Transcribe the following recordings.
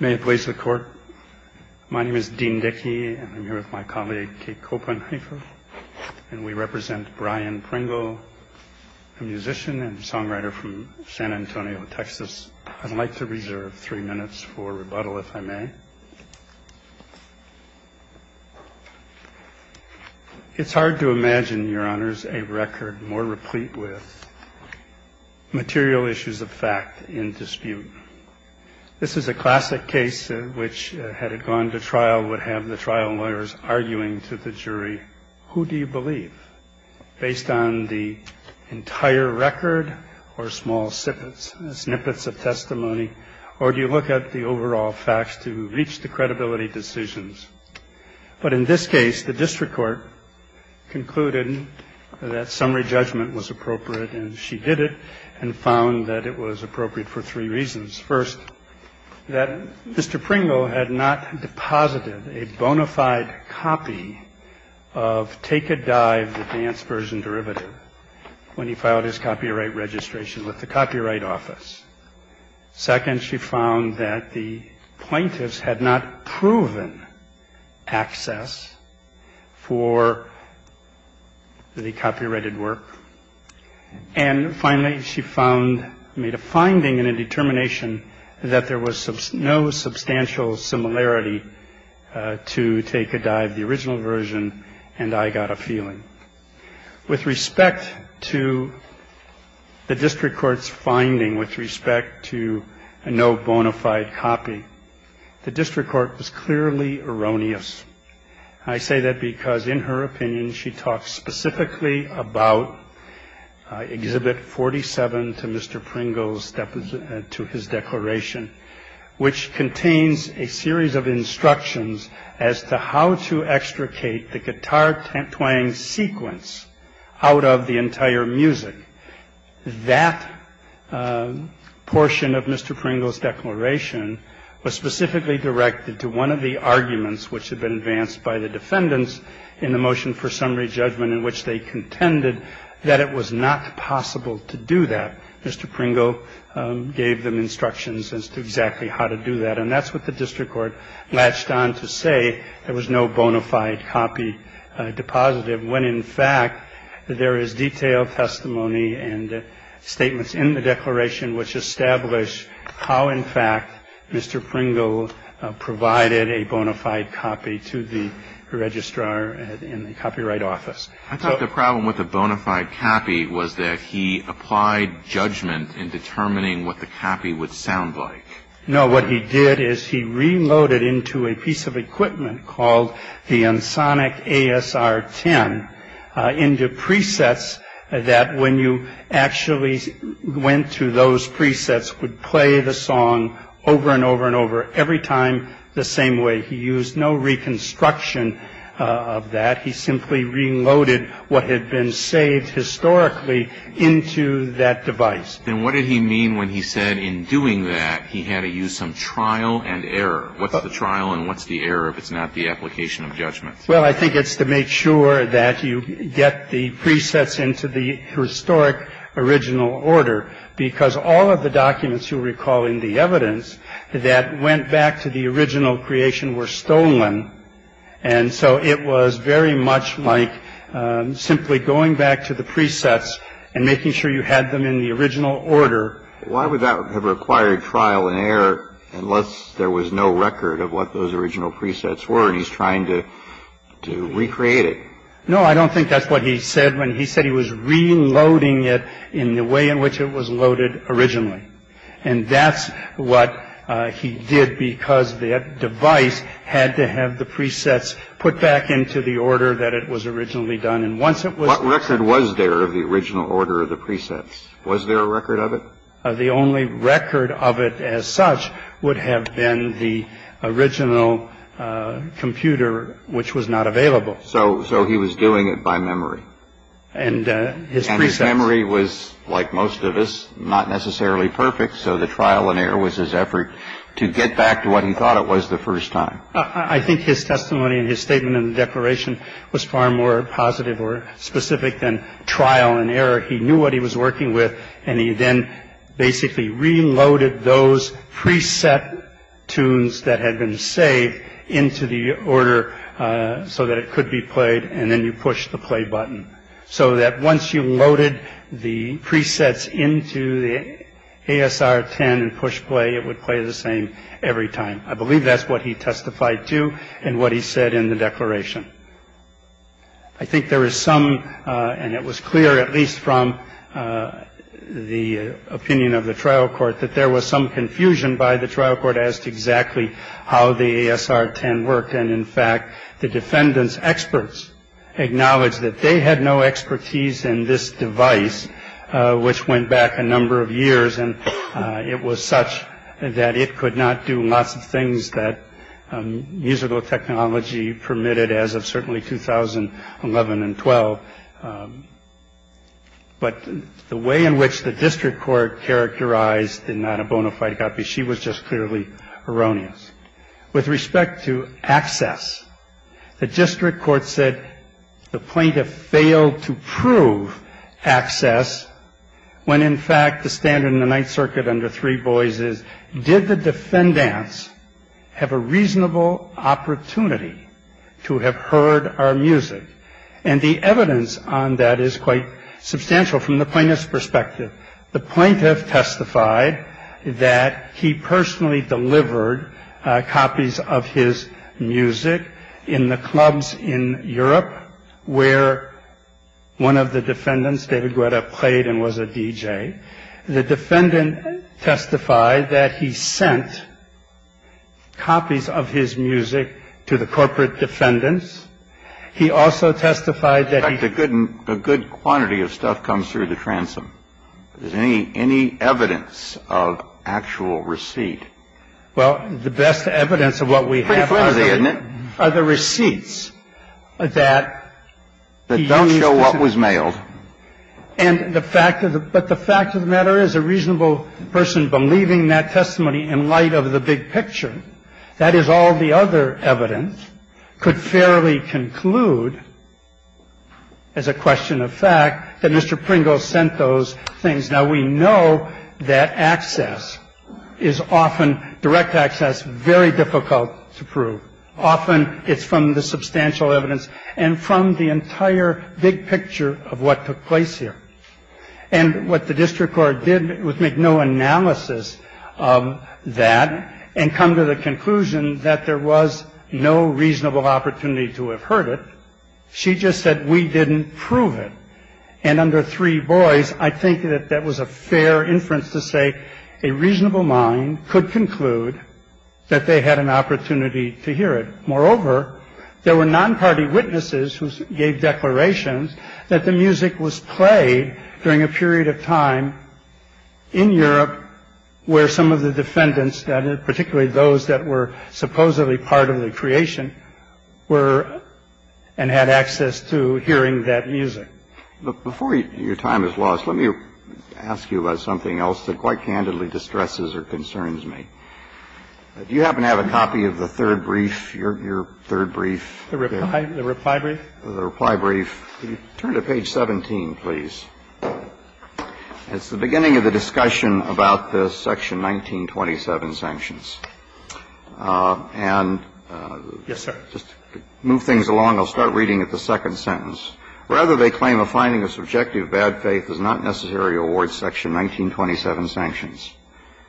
May it please the court, my name is Dean Dickey and I'm here with my colleague Kate Copenheifer and we represent Brian Pringle, a musician and songwriter from San Antonio, Texas. I'd like to reserve three minutes for rebuttal if I may. It's hard to imagine, your honors, a record more replete with material issues of fact in dispute. This is a classic case which, had it gone to trial, would have the trial lawyers arguing to the jury, who do you believe, based on the entire record or small snippets of testimony, or do you look at the overall facts to reach the credibility decisions? But in this case, the district court concluded that summary judgment was appropriate and she did it and found that it was appropriate for three reasons. First, that Mr. Pringle had not deposited a bona fide copy of Take a Dive, the dance version derivative, when he filed his copyright registration with the Copyright Office. Second, she found that the plaintiffs had not proven access for the copyrighted work. And finally, she found, made a finding and a determination, that there was no substantial similarity to Take a Dive, the original version, and I got a feeling. With respect to the district court's finding with respect to a no bona fide copy, the district court was clearly erroneous. I say that because in her opinion, she talks specifically about Exhibit 47 to Mr. Pringle's, to his declaration, which contains a series of instructions as to how to extricate the guitar twang sequence out of the entire music. That portion of Mr. Pringle's declaration was specifically directed to one of the arguments, which had been advanced by the defendants in the motion for summary judgment, in which they contended that it was not possible to do that. Mr. Pringle gave them instructions as to exactly how to do that. And that's what the district court latched on to say, there was no bona fide copy depositive, when in fact, there is detailed testimony and statements in the declaration, which establish how, in fact, Mr. Pringle provided a bona fide copy to the registrar in the Copyright Office. I thought the problem with the bona fide copy was that he applied judgment in determining what the copy would sound like. No, what he did is he reloaded into a piece of equipment called the Ensoniq ASR-10 into presets that when you actually went to those presets would play the song over and over and over every time the same way. He used no reconstruction of that. He simply reloaded what had been saved historically into that device. And what did he mean when he said in doing that he had to use some trial and error? What's the trial and what's the error if it's not the application of judgment? Well, I think it's to make sure that you get the presets into the historic original order, because all of the documents you recall in the evidence that went back to the original creation were stolen. And so it was very much like simply going back to the presets and making sure you had them in the original order. Why would that have required trial and error unless there was no record of what those original presets were? And he's trying to recreate it. No, I don't think that's what he said when he said he was reloading it in the way in which it was loaded originally. And that's what he did, because the device had to have the presets put back into the order that it was originally done. And once it was what record was there of the original order of the presets, was there a record of it? The only record of it as such would have been the original computer, which was not available. So so he was doing it by memory and his memory was like most of us. Not necessarily perfect. So the trial and error was his effort to get back to what he thought it was the first time. I think his testimony and his statement in the declaration was far more positive or specific than trial and error. He knew what he was working with. And he then basically reloaded those preset tunes that had been saved into the order so that it could be played. And then you push the play button so that once you loaded the presets into the A.S.R. 10 and push play, it would play the same every time. I believe that's what he testified to and what he said in the declaration. I think there is some and it was clear, at least from the opinion of the trial court, that there was some confusion by the trial court asked exactly how the A.S.R. 10 work. And in fact, the defendants experts acknowledge that they had no expertise in this device, which went back a number of years and it was such that it could not do lots of things that musical technology permitted as of certainly 2011 and 12. But the way in which the district court characterized and not a bona fide copy, she was just clearly erroneous. With respect to access, the district court said the plaintiff failed to prove access when in fact, the standard in the Ninth Circuit under three boys is did the defendants have a reasonable opportunity to have heard our music? And the evidence on that is quite substantial from the plaintiff's perspective. The plaintiff testified that he personally delivered copies of his music in the clubs in Europe, where one of the defendants, David Guetta, played and was a DJ. The defendant testified that he sent copies of his music to the corporate defendants. He also testified that he couldn't a good quantity of stuff comes through the transom. Is any any evidence of actual receipt? Well, the best evidence of what we have are the other receipts that don't show what was mailed. And the fact is, but the fact of the matter is a reasonable person believing that testimony in light of the big picture. That is all the other evidence could fairly conclude as a question of fact that Mr. Pringle sent those things. Now, we know that access is often direct access, very difficult to prove. Often it's from the substantial evidence and from the entire big picture of what took place here. And what the district court did was make no analysis of that and come to the conclusion that there was no reasonable opportunity to have heard it. She just said we didn't prove it. And under three boys, I think that that was a fair inference to say a reasonable mind could conclude that they had an opportunity to hear it. Moreover, there were non-party witnesses who gave declarations that the music was played during a period of time in Europe where some of the defendants, that particularly those that were supposedly part of the creation were and had access to hearing that music before your time is lost. Let me ask you about something else that quite candidly distresses or concerns me. Do you happen to have a copy of the third brief, your third brief? The reply brief? The reply brief. Turn to page 17, please. It's the beginning of the discussion about the section 1927 sanctions. And just move things along. I'll start reading at the second sentence. Rather, they claim a finding of subjective bad faith does not necessarily award section 1927 sanctions.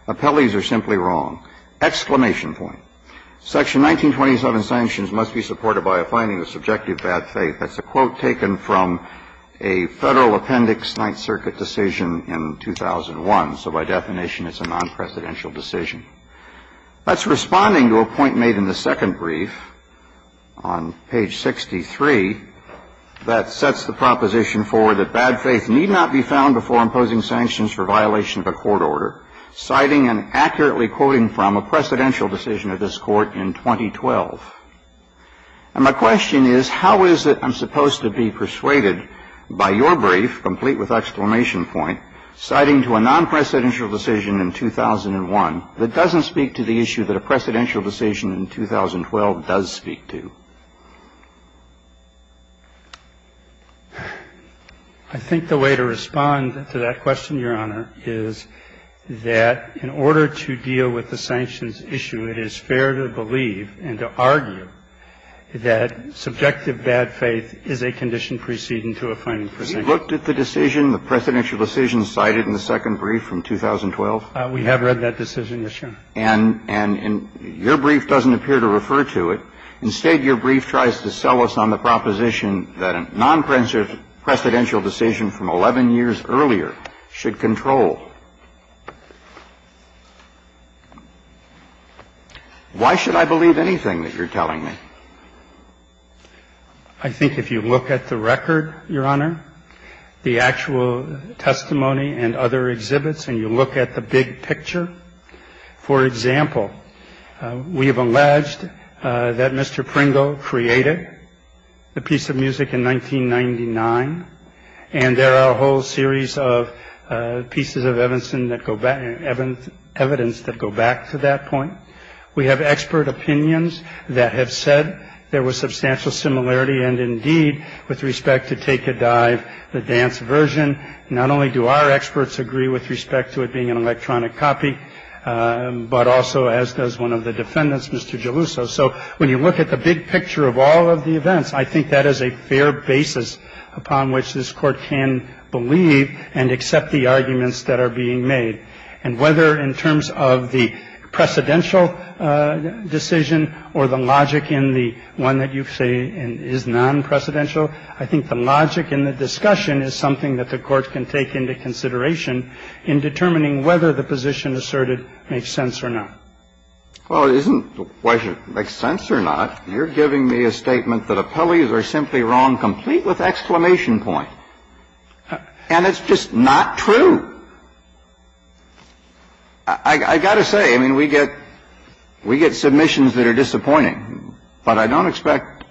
Appellees are simply wrong. Exclamation point. Section 1927 sanctions must be supported by a finding of subjective bad faith. That's a quote taken from a Federal Appendix Ninth Circuit decision in 2001. So by definition, it's a non-presidential decision. That's responding to a point made in the second brief on page 63 that sets the proposition forward that bad faith need not be found before imposing sanctions for violation of a court order. Citing and accurately quoting from a presidential decision of this court in 2012. And my question is, how is it I'm supposed to be persuaded by your brief, complete with exclamation point, citing to a non-presidential decision in 2001 that doesn't speak to the issue that a presidential decision in 2012 does speak to? I think the way to respond to that question, Your Honor, is that in order to deal with the sanctions issue, it is fair to believe and to argue that subjective bad faith is a condition preceding to a finding for sanctions. You looked at the decision, the presidential decision cited in the second brief from 2012? We have read that decision, yes, Your Honor. And your brief doesn't appear to refer to it. Instead, your brief tries to sell us on the proposition that a non-presidential decision from 11 years earlier should control. Why should I believe anything that you're telling me? I think if you look at the record, Your Honor, the actual testimony and other exhibits, and you look at the big picture, for example, we have alleged that Mr. Pringle created the piece of music in 1999. And there are a whole series of pieces of evidence that go back to that point. We have expert opinions that have said there was substantial similarity. And indeed, with respect to Take a Dive, the dance version, not only do our experts agree with respect to it being an electronic copy, but also, as does one of the defendants, Mr. Geluso. So when you look at the big picture of all of the events, I think that is a fair basis upon which this Court can believe and accept the arguments that are being made. And whether in terms of the precedential decision or the logic in the one that you say is non-precedential, I think the logic in the discussion is something that the Court can take into consideration in determining whether the position asserted makes sense or not. Well, it isn't the question, makes sense or not. You're giving me a statement that appellees are simply wrong, complete with exclamation point. And it's just not true. I got to say, I mean, we get submissions that are disappointing. But I don't expect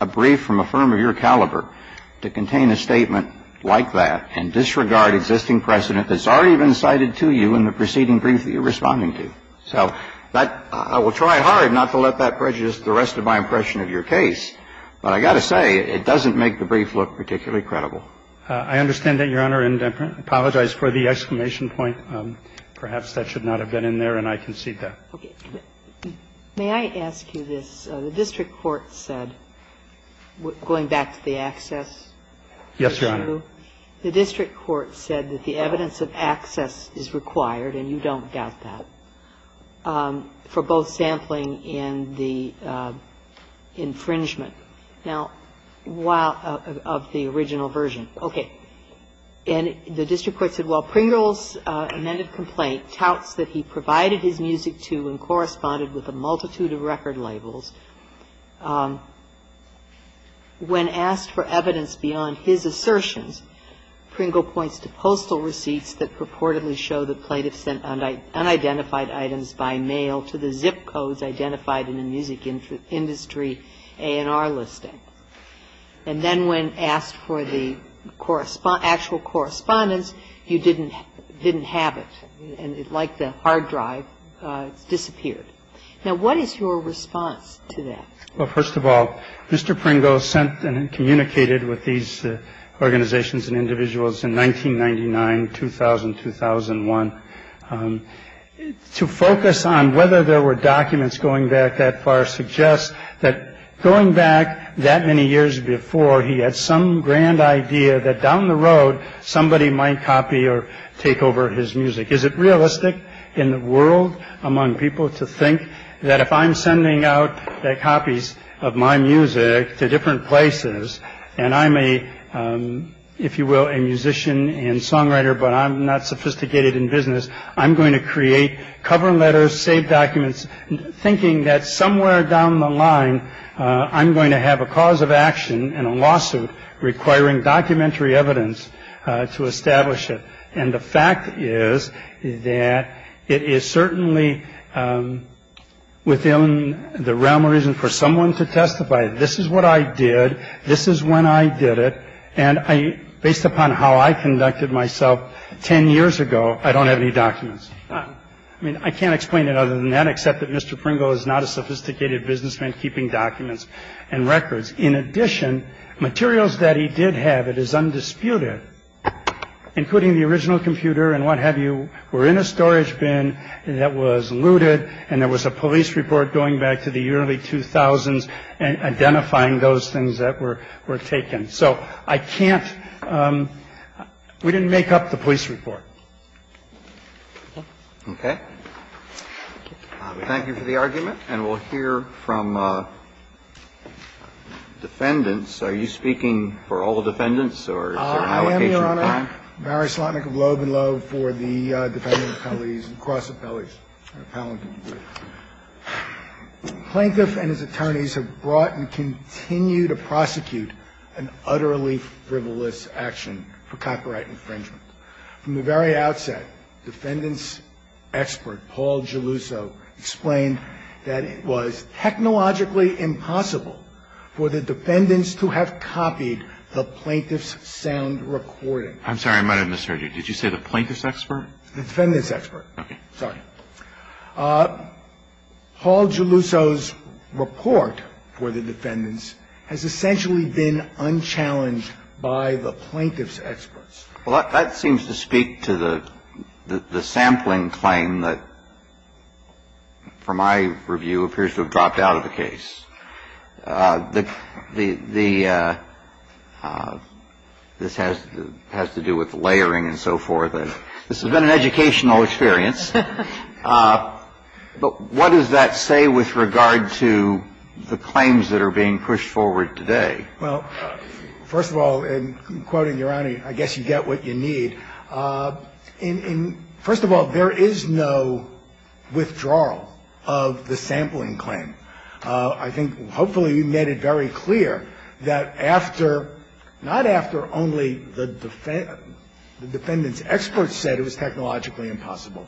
a brief from a firm of your caliber to contain a statement like that and disregard existing precedent that's already been cited to you in the preceding brief that you're responding to. So that – I will try hard not to let that prejudice the rest of my impression of your case, but I got to say, it doesn't make the brief look particularly credible. I understand that, Your Honor, and I apologize for the exclamation point. Perhaps that should not have been in there, and I concede that. Okay. May I ask you this? The district court said, going back to the access issue, the district court said that the evidence of access is required, and you don't doubt that, for both sampling and the infringement. Now, while – of the original version. Okay. And the district court said, while Pringle's amended complaint touts that he provided his music to and corresponded with a multitude of record labels, when asked for evidence beyond his assertions, Pringle points to postal receipts that purportedly show the plaintiff sent unidentified items by mail to the zip codes identified in the music industry A&R listing. And then when asked for the actual correspondence, you didn't have it, and it, like the hard drive, disappeared. Now what is your response to that? Well, first of all, Mr. Pringle sent and communicated with these organizations and individuals in 1999, 2000, 2001. To focus on whether there were documents going back that far suggests that going back that many years before, he had some grand idea that down the road somebody might copy or take over his music. Is it realistic in the world among people to think that if I'm sending out that copies of my music to different places and I'm a, if you will, a musician and songwriter, but I'm not sophisticated in business, I'm going to create cover letters, save documents, thinking that somewhere down the line I'm going to have a cause of action and a lawsuit requiring documentary evidence to establish it. And the fact is that it is certainly within the realm of reason for someone to testify. This is what I did. This is when I did it. And based upon how I conducted myself 10 years ago, I don't have any documents. I mean, I can't explain it other than that, except that Mr. Pringle is not a sophisticated businessman keeping documents and records. In addition, materials that he did have, it is undisputed, including the original computer and what have you, were in a storage bin that was looted. And there was a police report going back to the early 2000s and identifying those things that were were taken. So I can't. We didn't make up the police report. Okay. Thank you for the argument, and we'll hear from defendants. Are you speaking for all the defendants, or is there an allocation of time? I am, Your Honor. I'm Barry Slotnick of Loeb and Loeb for the defendant appellees and cross appellees. Plaintiff and his attorneys have brought and continue to prosecute an utterly frivolous action for copyright infringement. From the very outset, defendant's expert, Paul Geluso, explained that it was technologically impossible for the defendants to have copied the plaintiff's sound recording. I'm sorry. I might have misheard you. Did you say the plaintiff's expert? The defendant's expert. Okay. Sorry. Paul Geluso's report for the defendants has essentially been unchallenged by the plaintiff's experts. Well, that seems to speak to the sampling claim that, from my review, appears to have dropped out of the case. This has to do with layering and so forth. This has been an educational experience. But what does that say with regard to the claims that are being pushed forward today? Well, first of all, in quoting Your Honor, I guess you get what you need. First of all, there is no withdrawal of the sampling claim. I think hopefully you made it very clear that after, not after only the defendant's expert said it was technologically impossible.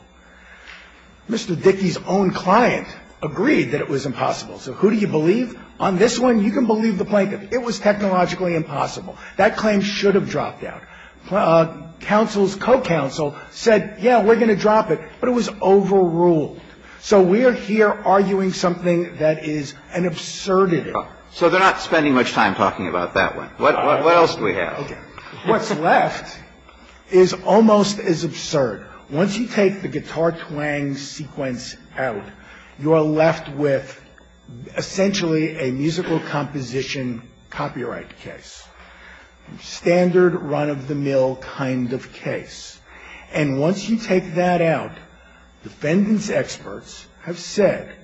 Mr. Dickey's own client agreed that it was impossible. So who do you believe? On this one, you can believe the plaintiff. It was technologically impossible. That claim should have dropped out. Counsel's co-counsel said, yeah, we're going to drop it, but it was overruled. So we're here arguing something that is an absurdity. So they're not spending much time talking about that one. What's left is almost as absurd. Once you take the guitar twang sequence out, you are left with essentially a musical composition copyright case, standard run-of-the-mill kind of case. And once you take that out, defendant's experts have said,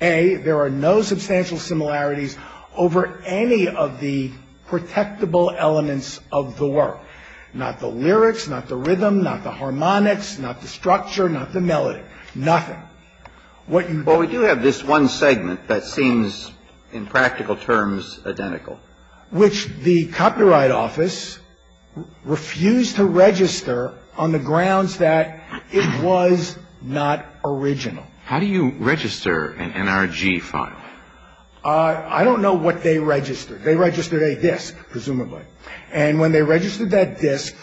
A, there are no substantial similarities over any of the protectable elements of the work. None at all. Not the lyrics, not the rhythm, not the harmonics, not the structure, not the melody. Nothing. What you do... Well, we do have this one segment that seems in practical terms identical. Which the Copyright Office refused to register on the grounds that it was not original. How do you register an NRG file? I don't know what they registered. They registered a disc, presumably. And when they registered that disc,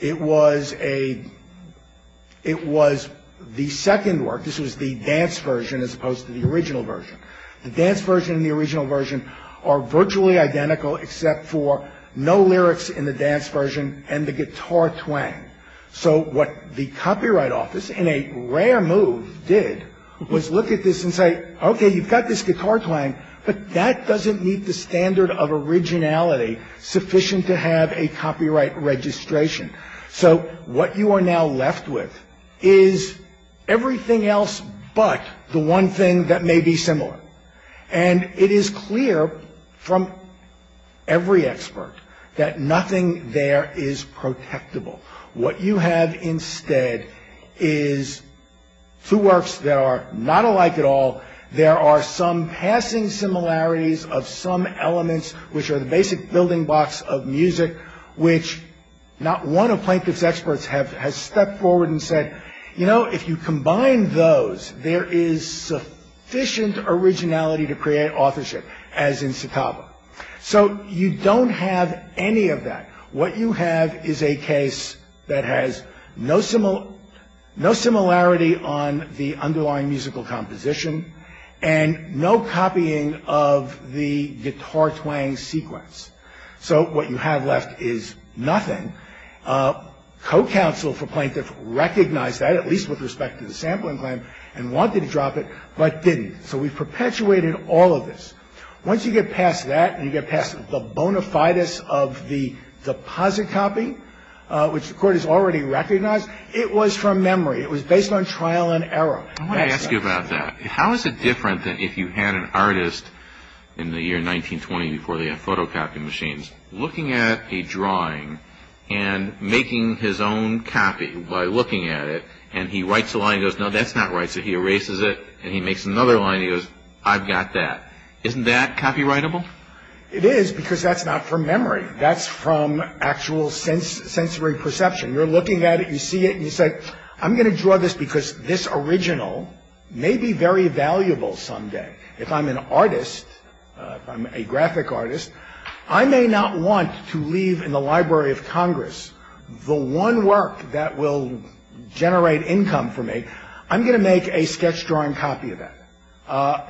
it was the second work. This was the dance version as opposed to the original version. The dance version and the original version are virtually identical, except for no lyrics in the dance version and the guitar twang. So what the Copyright Office, in a rare move, did was look at this and say, Okay, you've got this guitar twang, but that doesn't meet the standard of originality sufficient to have a copyright registration. So what you are now left with is everything else but the one thing that may be similar. And it is clear from every expert that nothing there is protectable. What you have instead is two works that are not alike at all. There are some passing similarities of some elements, which are the basic building blocks of music, which not one of Plaintiff's experts has stepped forward and said, You know, if you combine those, there is sufficient originality to create authorship, as in Citaba. So you don't have any of that. What you have is a case that has no similarity on the underlying musical composition and no copying of the guitar twang sequence. So what you have left is nothing. Co-counsel for Plaintiff recognized that, at least with respect to the sampling claim, and wanted to drop it, but didn't. So we've perpetuated all of this. Once you get past that and you get past the bona fides of the deposit copy, which the Court has already recognized, it was from memory. It was based on trial and error. I want to ask you about that. How is it different than if you had an artist in the year 1920 before they had photocopy machines looking at a drawing and making his own copy by looking at it, and he writes a line and goes, No, that's not right. So he erases it, and he makes another line, and he goes, I've got that. Isn't that copyrightable? It is, because that's not from memory. That's from actual sensory perception. You're looking at it, you see it, and you say, I'm going to draw this because this original may be very valuable someday. If I'm an artist, if I'm a graphic artist, I may not want to leave in the Library of Congress the one work that will generate income for me. I'm going to make a sketch drawing copy of that.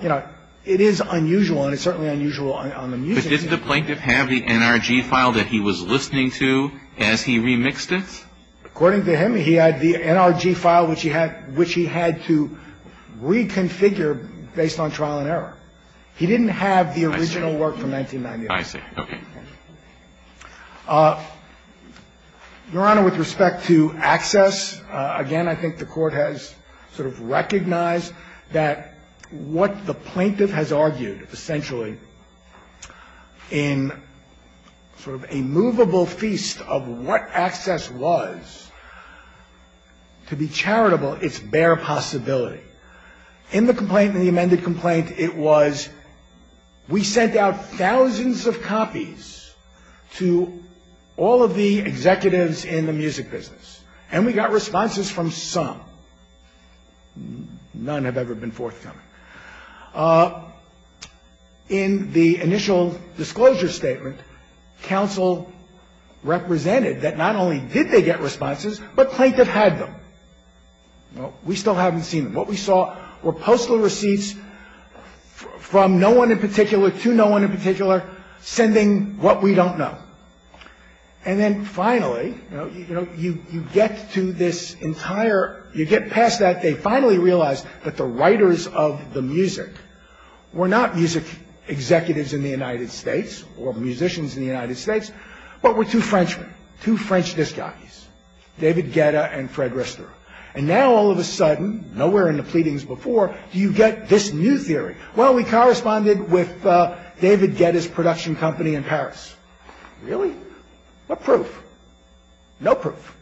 You know, it is unusual, and it's certainly unusual on the museum. But did the plaintiff have the NRG file that he was listening to as he remixed it? According to him, he had the NRG file, which he had to reconfigure based on trial and error. He didn't have the original work from 1990. I see. Okay. Your Honor, with respect to access, again, I think the Court has sort of recognized that what the plaintiff has argued, essentially, in sort of a movable feast of what access was, to be charitable, it's bare possibility. In the complaint, in the amended complaint, it was, we sent out thousands of copies to all of the executives in the music business, and we got responses from some. None have ever been forthcoming. In the initial disclosure statement, counsel represented that not only did they get responses, but plaintiff had them. We still haven't seen them. What we saw were postal receipts from no one in particular to no one in particular, sending what we don't know. And then finally, you know, you get to this entire, you get past that. They finally realized that the writers of the music were not music executives in the United States or musicians in the United States, but were two Frenchmen, two French disc jockeys, David Guetta and Fred Rister. And now, all of a sudden, nowhere in the pleadings before, you get this new theory. Well, we corresponded with David Guetta's production company in Paris. Really? What proof? No proof.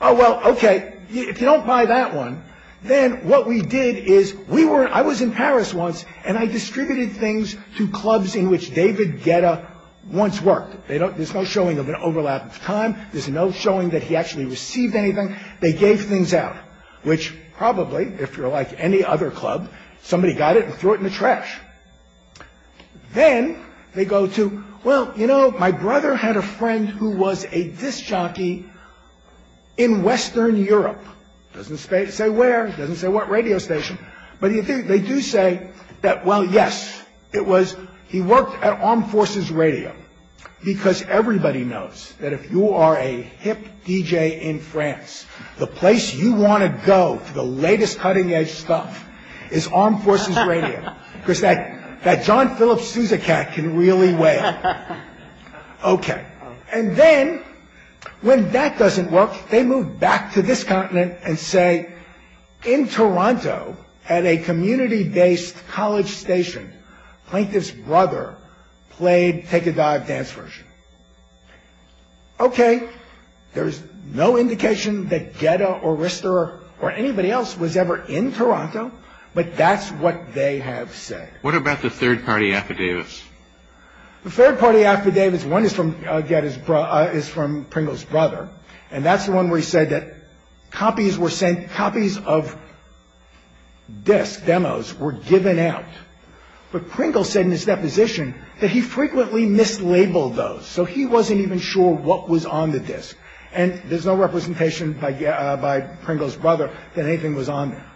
Oh, well, okay. If you don't buy that one, then what we did is we were, I was in Paris once, and I distributed things to clubs in which David Guetta once worked. There's no showing of an overlap of time. There's no showing that he actually received anything. They gave things out, which probably, if you're like any other club, somebody got it and threw it in the trash. Then they go to, well, you know, my brother had a friend who was a disc jockey in Western Europe. Doesn't say where. Doesn't say what radio station. But they do say that, well, yes, it was, he worked at Armed Forces Radio. Because everybody knows that if you are a hip DJ in France, the place you want to go for the latest cutting-edge stuff is Armed Forces Radio. Because that John Philip Sousa cat can really wail. Okay. And then when that doesn't work, they move back to this continent and say, in Toronto, at a community-based college station, Plaintiff's brother played take a dive dance version. Okay. There's no indication that Guetta or Rister or anybody else was ever in Toronto. But that's what they have said. What about the third-party affidavits? The third-party affidavits, one is from Pringle's brother. And that's the one where he said that copies were sent, copies of discs, demos, were given out. But Pringle said in his deposition that he frequently mislabeled those. So he wasn't even sure what was on the disc. And there's no representation by Pringle's brother that anything was on there.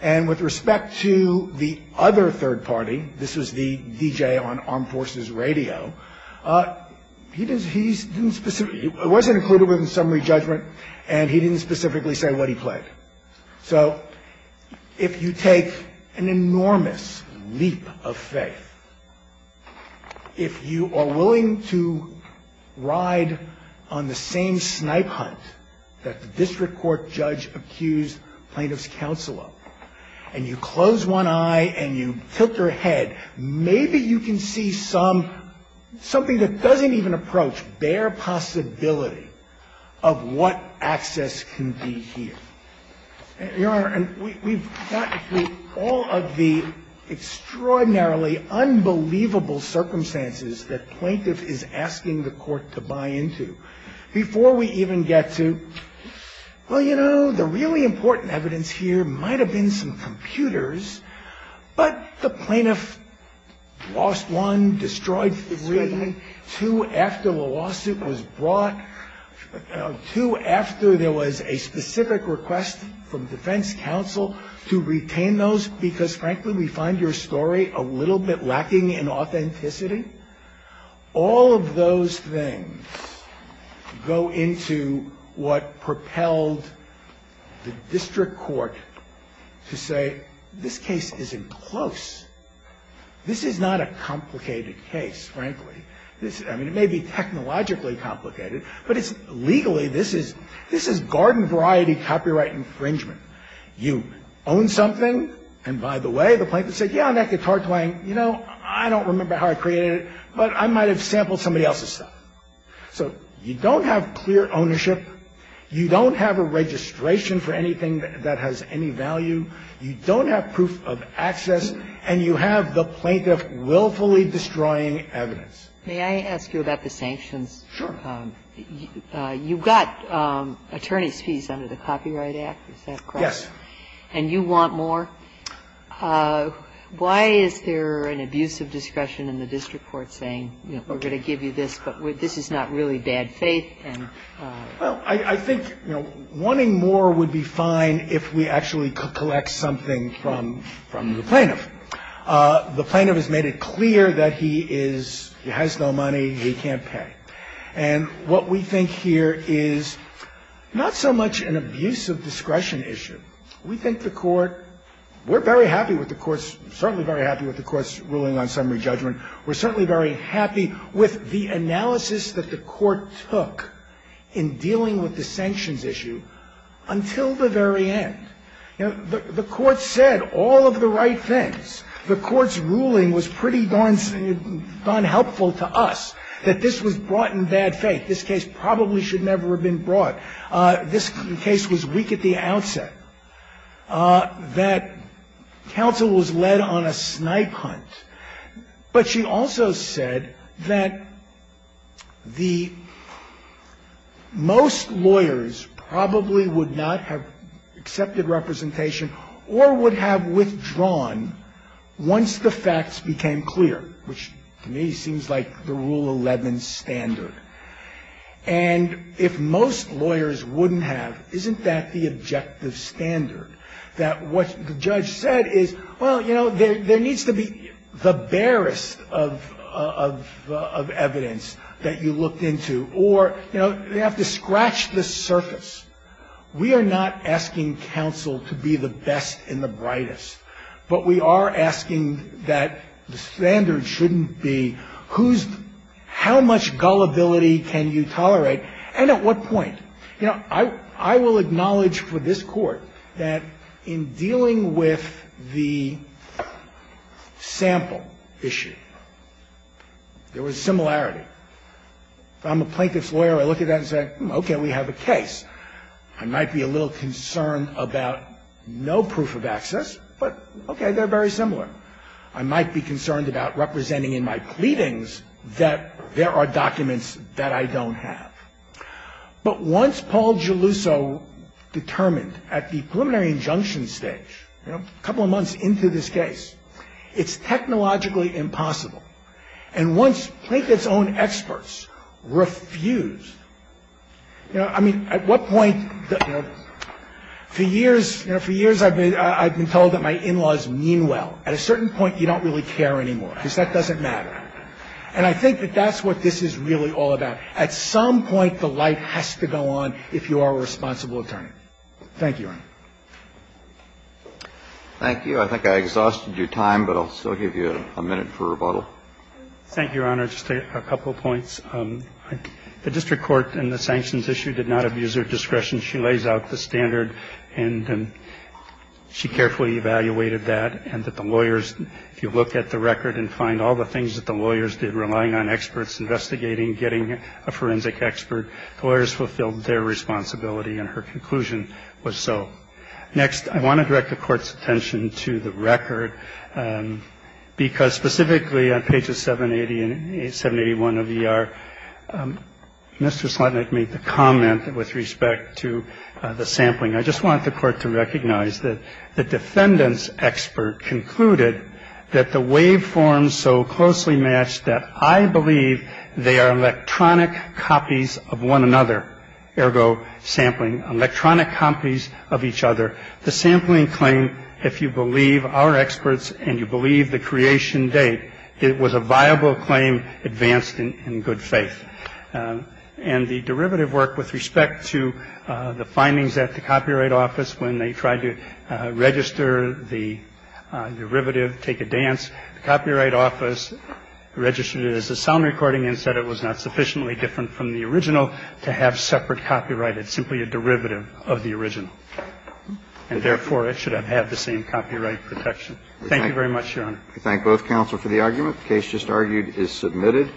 And with respect to the other third-party, this was the DJ on Armed Forces Radio, he didn't specifically, it wasn't included within summary judgment, and he didn't specifically say what he played. So if you take an enormous leap of faith, if you are willing to ride on the same snipe hunt that the district court judge accused plaintiff's counselor, and you close one eye and you tilt your head, maybe you can see some, something that doesn't even approach bare possibility of what access can be here. Your Honor, we've gone through all of the extraordinarily unbelievable circumstances that plaintiff is asking the court to buy into before we even get to, well, you know, the really important evidence here might have been some computers, but the plaintiff lost one, destroyed three, two after the lawsuit was brought, two after there was a specific request from defense counsel to retain those, because frankly we find your story a little bit lacking in authenticity. All of those things go into what propelled the district court to say, this case isn't close. This is not a complicated case, frankly. I mean, it may be technologically complicated, but it's legally, this is garden variety copyright infringement. You own something, and by the way, the plaintiff said, yeah, and that guitar playing, you know, I don't remember how I created it, but I might have sampled somebody else's stuff. So you don't have clear ownership. You don't have a registration for anything that has any value. You don't have proof of access. And you have the plaintiff willfully destroying evidence. Kagan. May I ask you about the sanctions? Sure. You've got attorney's fees under the Copyright Act, is that correct? Yes. And you want more. Why is there an abuse of discretion in the district court saying, you know, we're going to give you this, but this is not really bad faith? Well, I think, you know, wanting more would be fine if we actually could collect something from the plaintiff. The plaintiff has made it clear that he is, he has no money, he can't pay. And what we think here is not so much an abuse of discretion issue. We think the Court, we're very happy with the Court's, certainly very happy with the Court's ruling on summary judgment. We're certainly very happy with the analysis that the Court took in dealing with the sanctions issue until the very end. You know, the Court said all of the right things. The Court's ruling was pretty darn helpful to us, that this was brought in bad faith. This case probably should never have been brought. This case was weak at the outset. That counsel was led on a snipe hunt. But she also said that the most lawyers probably would not have accepted representation or would have withdrawn once the facts became clear, which to me seems like the Rule 11 standard. And if most lawyers wouldn't have, isn't that the objective standard, that what the judge said is, well, you know, there needs to be the barest of evidence that you looked into, or, you know, they have to scratch the surface. We are not asking counsel to be the best and the brightest, but we are asking that the standard shouldn't be who's, how much gullibility can you tolerate and at what point. You know, I will acknowledge for this Court that in dealing with the sample issue, there was similarity. If I'm a plaintiff's lawyer, I look at that and say, okay, we have a case. I might be a little concerned about no proof of access, but, okay, they're very similar. I might be concerned about representing in my pleadings that there are documents that I don't have. But once Paul Geluso determined at the preliminary injunction stage, you know, a couple of months into this case, it's technologically impossible. And once plaintiff's own experts refused, you know, I mean, at what point, you know, for years, you know, for years I've been told that my in-laws mean well. At a certain point, you don't really care anymore because that doesn't matter. And I think that that's what this is really all about. At some point, the light has to go on if you are a responsible attorney. Thank you, Your Honor. Thank you. I think I exhausted your time, but I'll still give you a minute for rebuttal. Thank you, Your Honor. Just a couple of points. The district court in the sanctions issue did not abuse her discretion. She lays out the standard, and she carefully evaluated that, and that the lawyers, if you look at the record and find all the things that the lawyers did, relying on experts investigating, getting a forensic expert, the lawyers fulfilled their responsibility, and her conclusion was so. Next, I want to direct the Court's attention to the record, because specifically on pages 780 and 781 of ER, Mr. Slotnick made the comment with respect to the sampling. I just want the Court to recognize that the defendant's expert concluded that the waveforms so closely matched that I believe they are electronic copies of one another, ergo sampling, electronic copies of each other. The sampling claim, if you believe our experts and you believe the creation date, it was a viable claim advanced in good faith. And the derivative work with respect to the findings at the Copyright Office, when they tried to register the derivative, take a dance, the Copyright Office registered it as a sound recording and said it was not sufficiently different from the original to have separate copyright. It's simply a derivative of the original. And therefore, it should have had the same copyright protection. Thank you very much, Your Honor. We thank both counsel for the argument. The case just argued is submitted.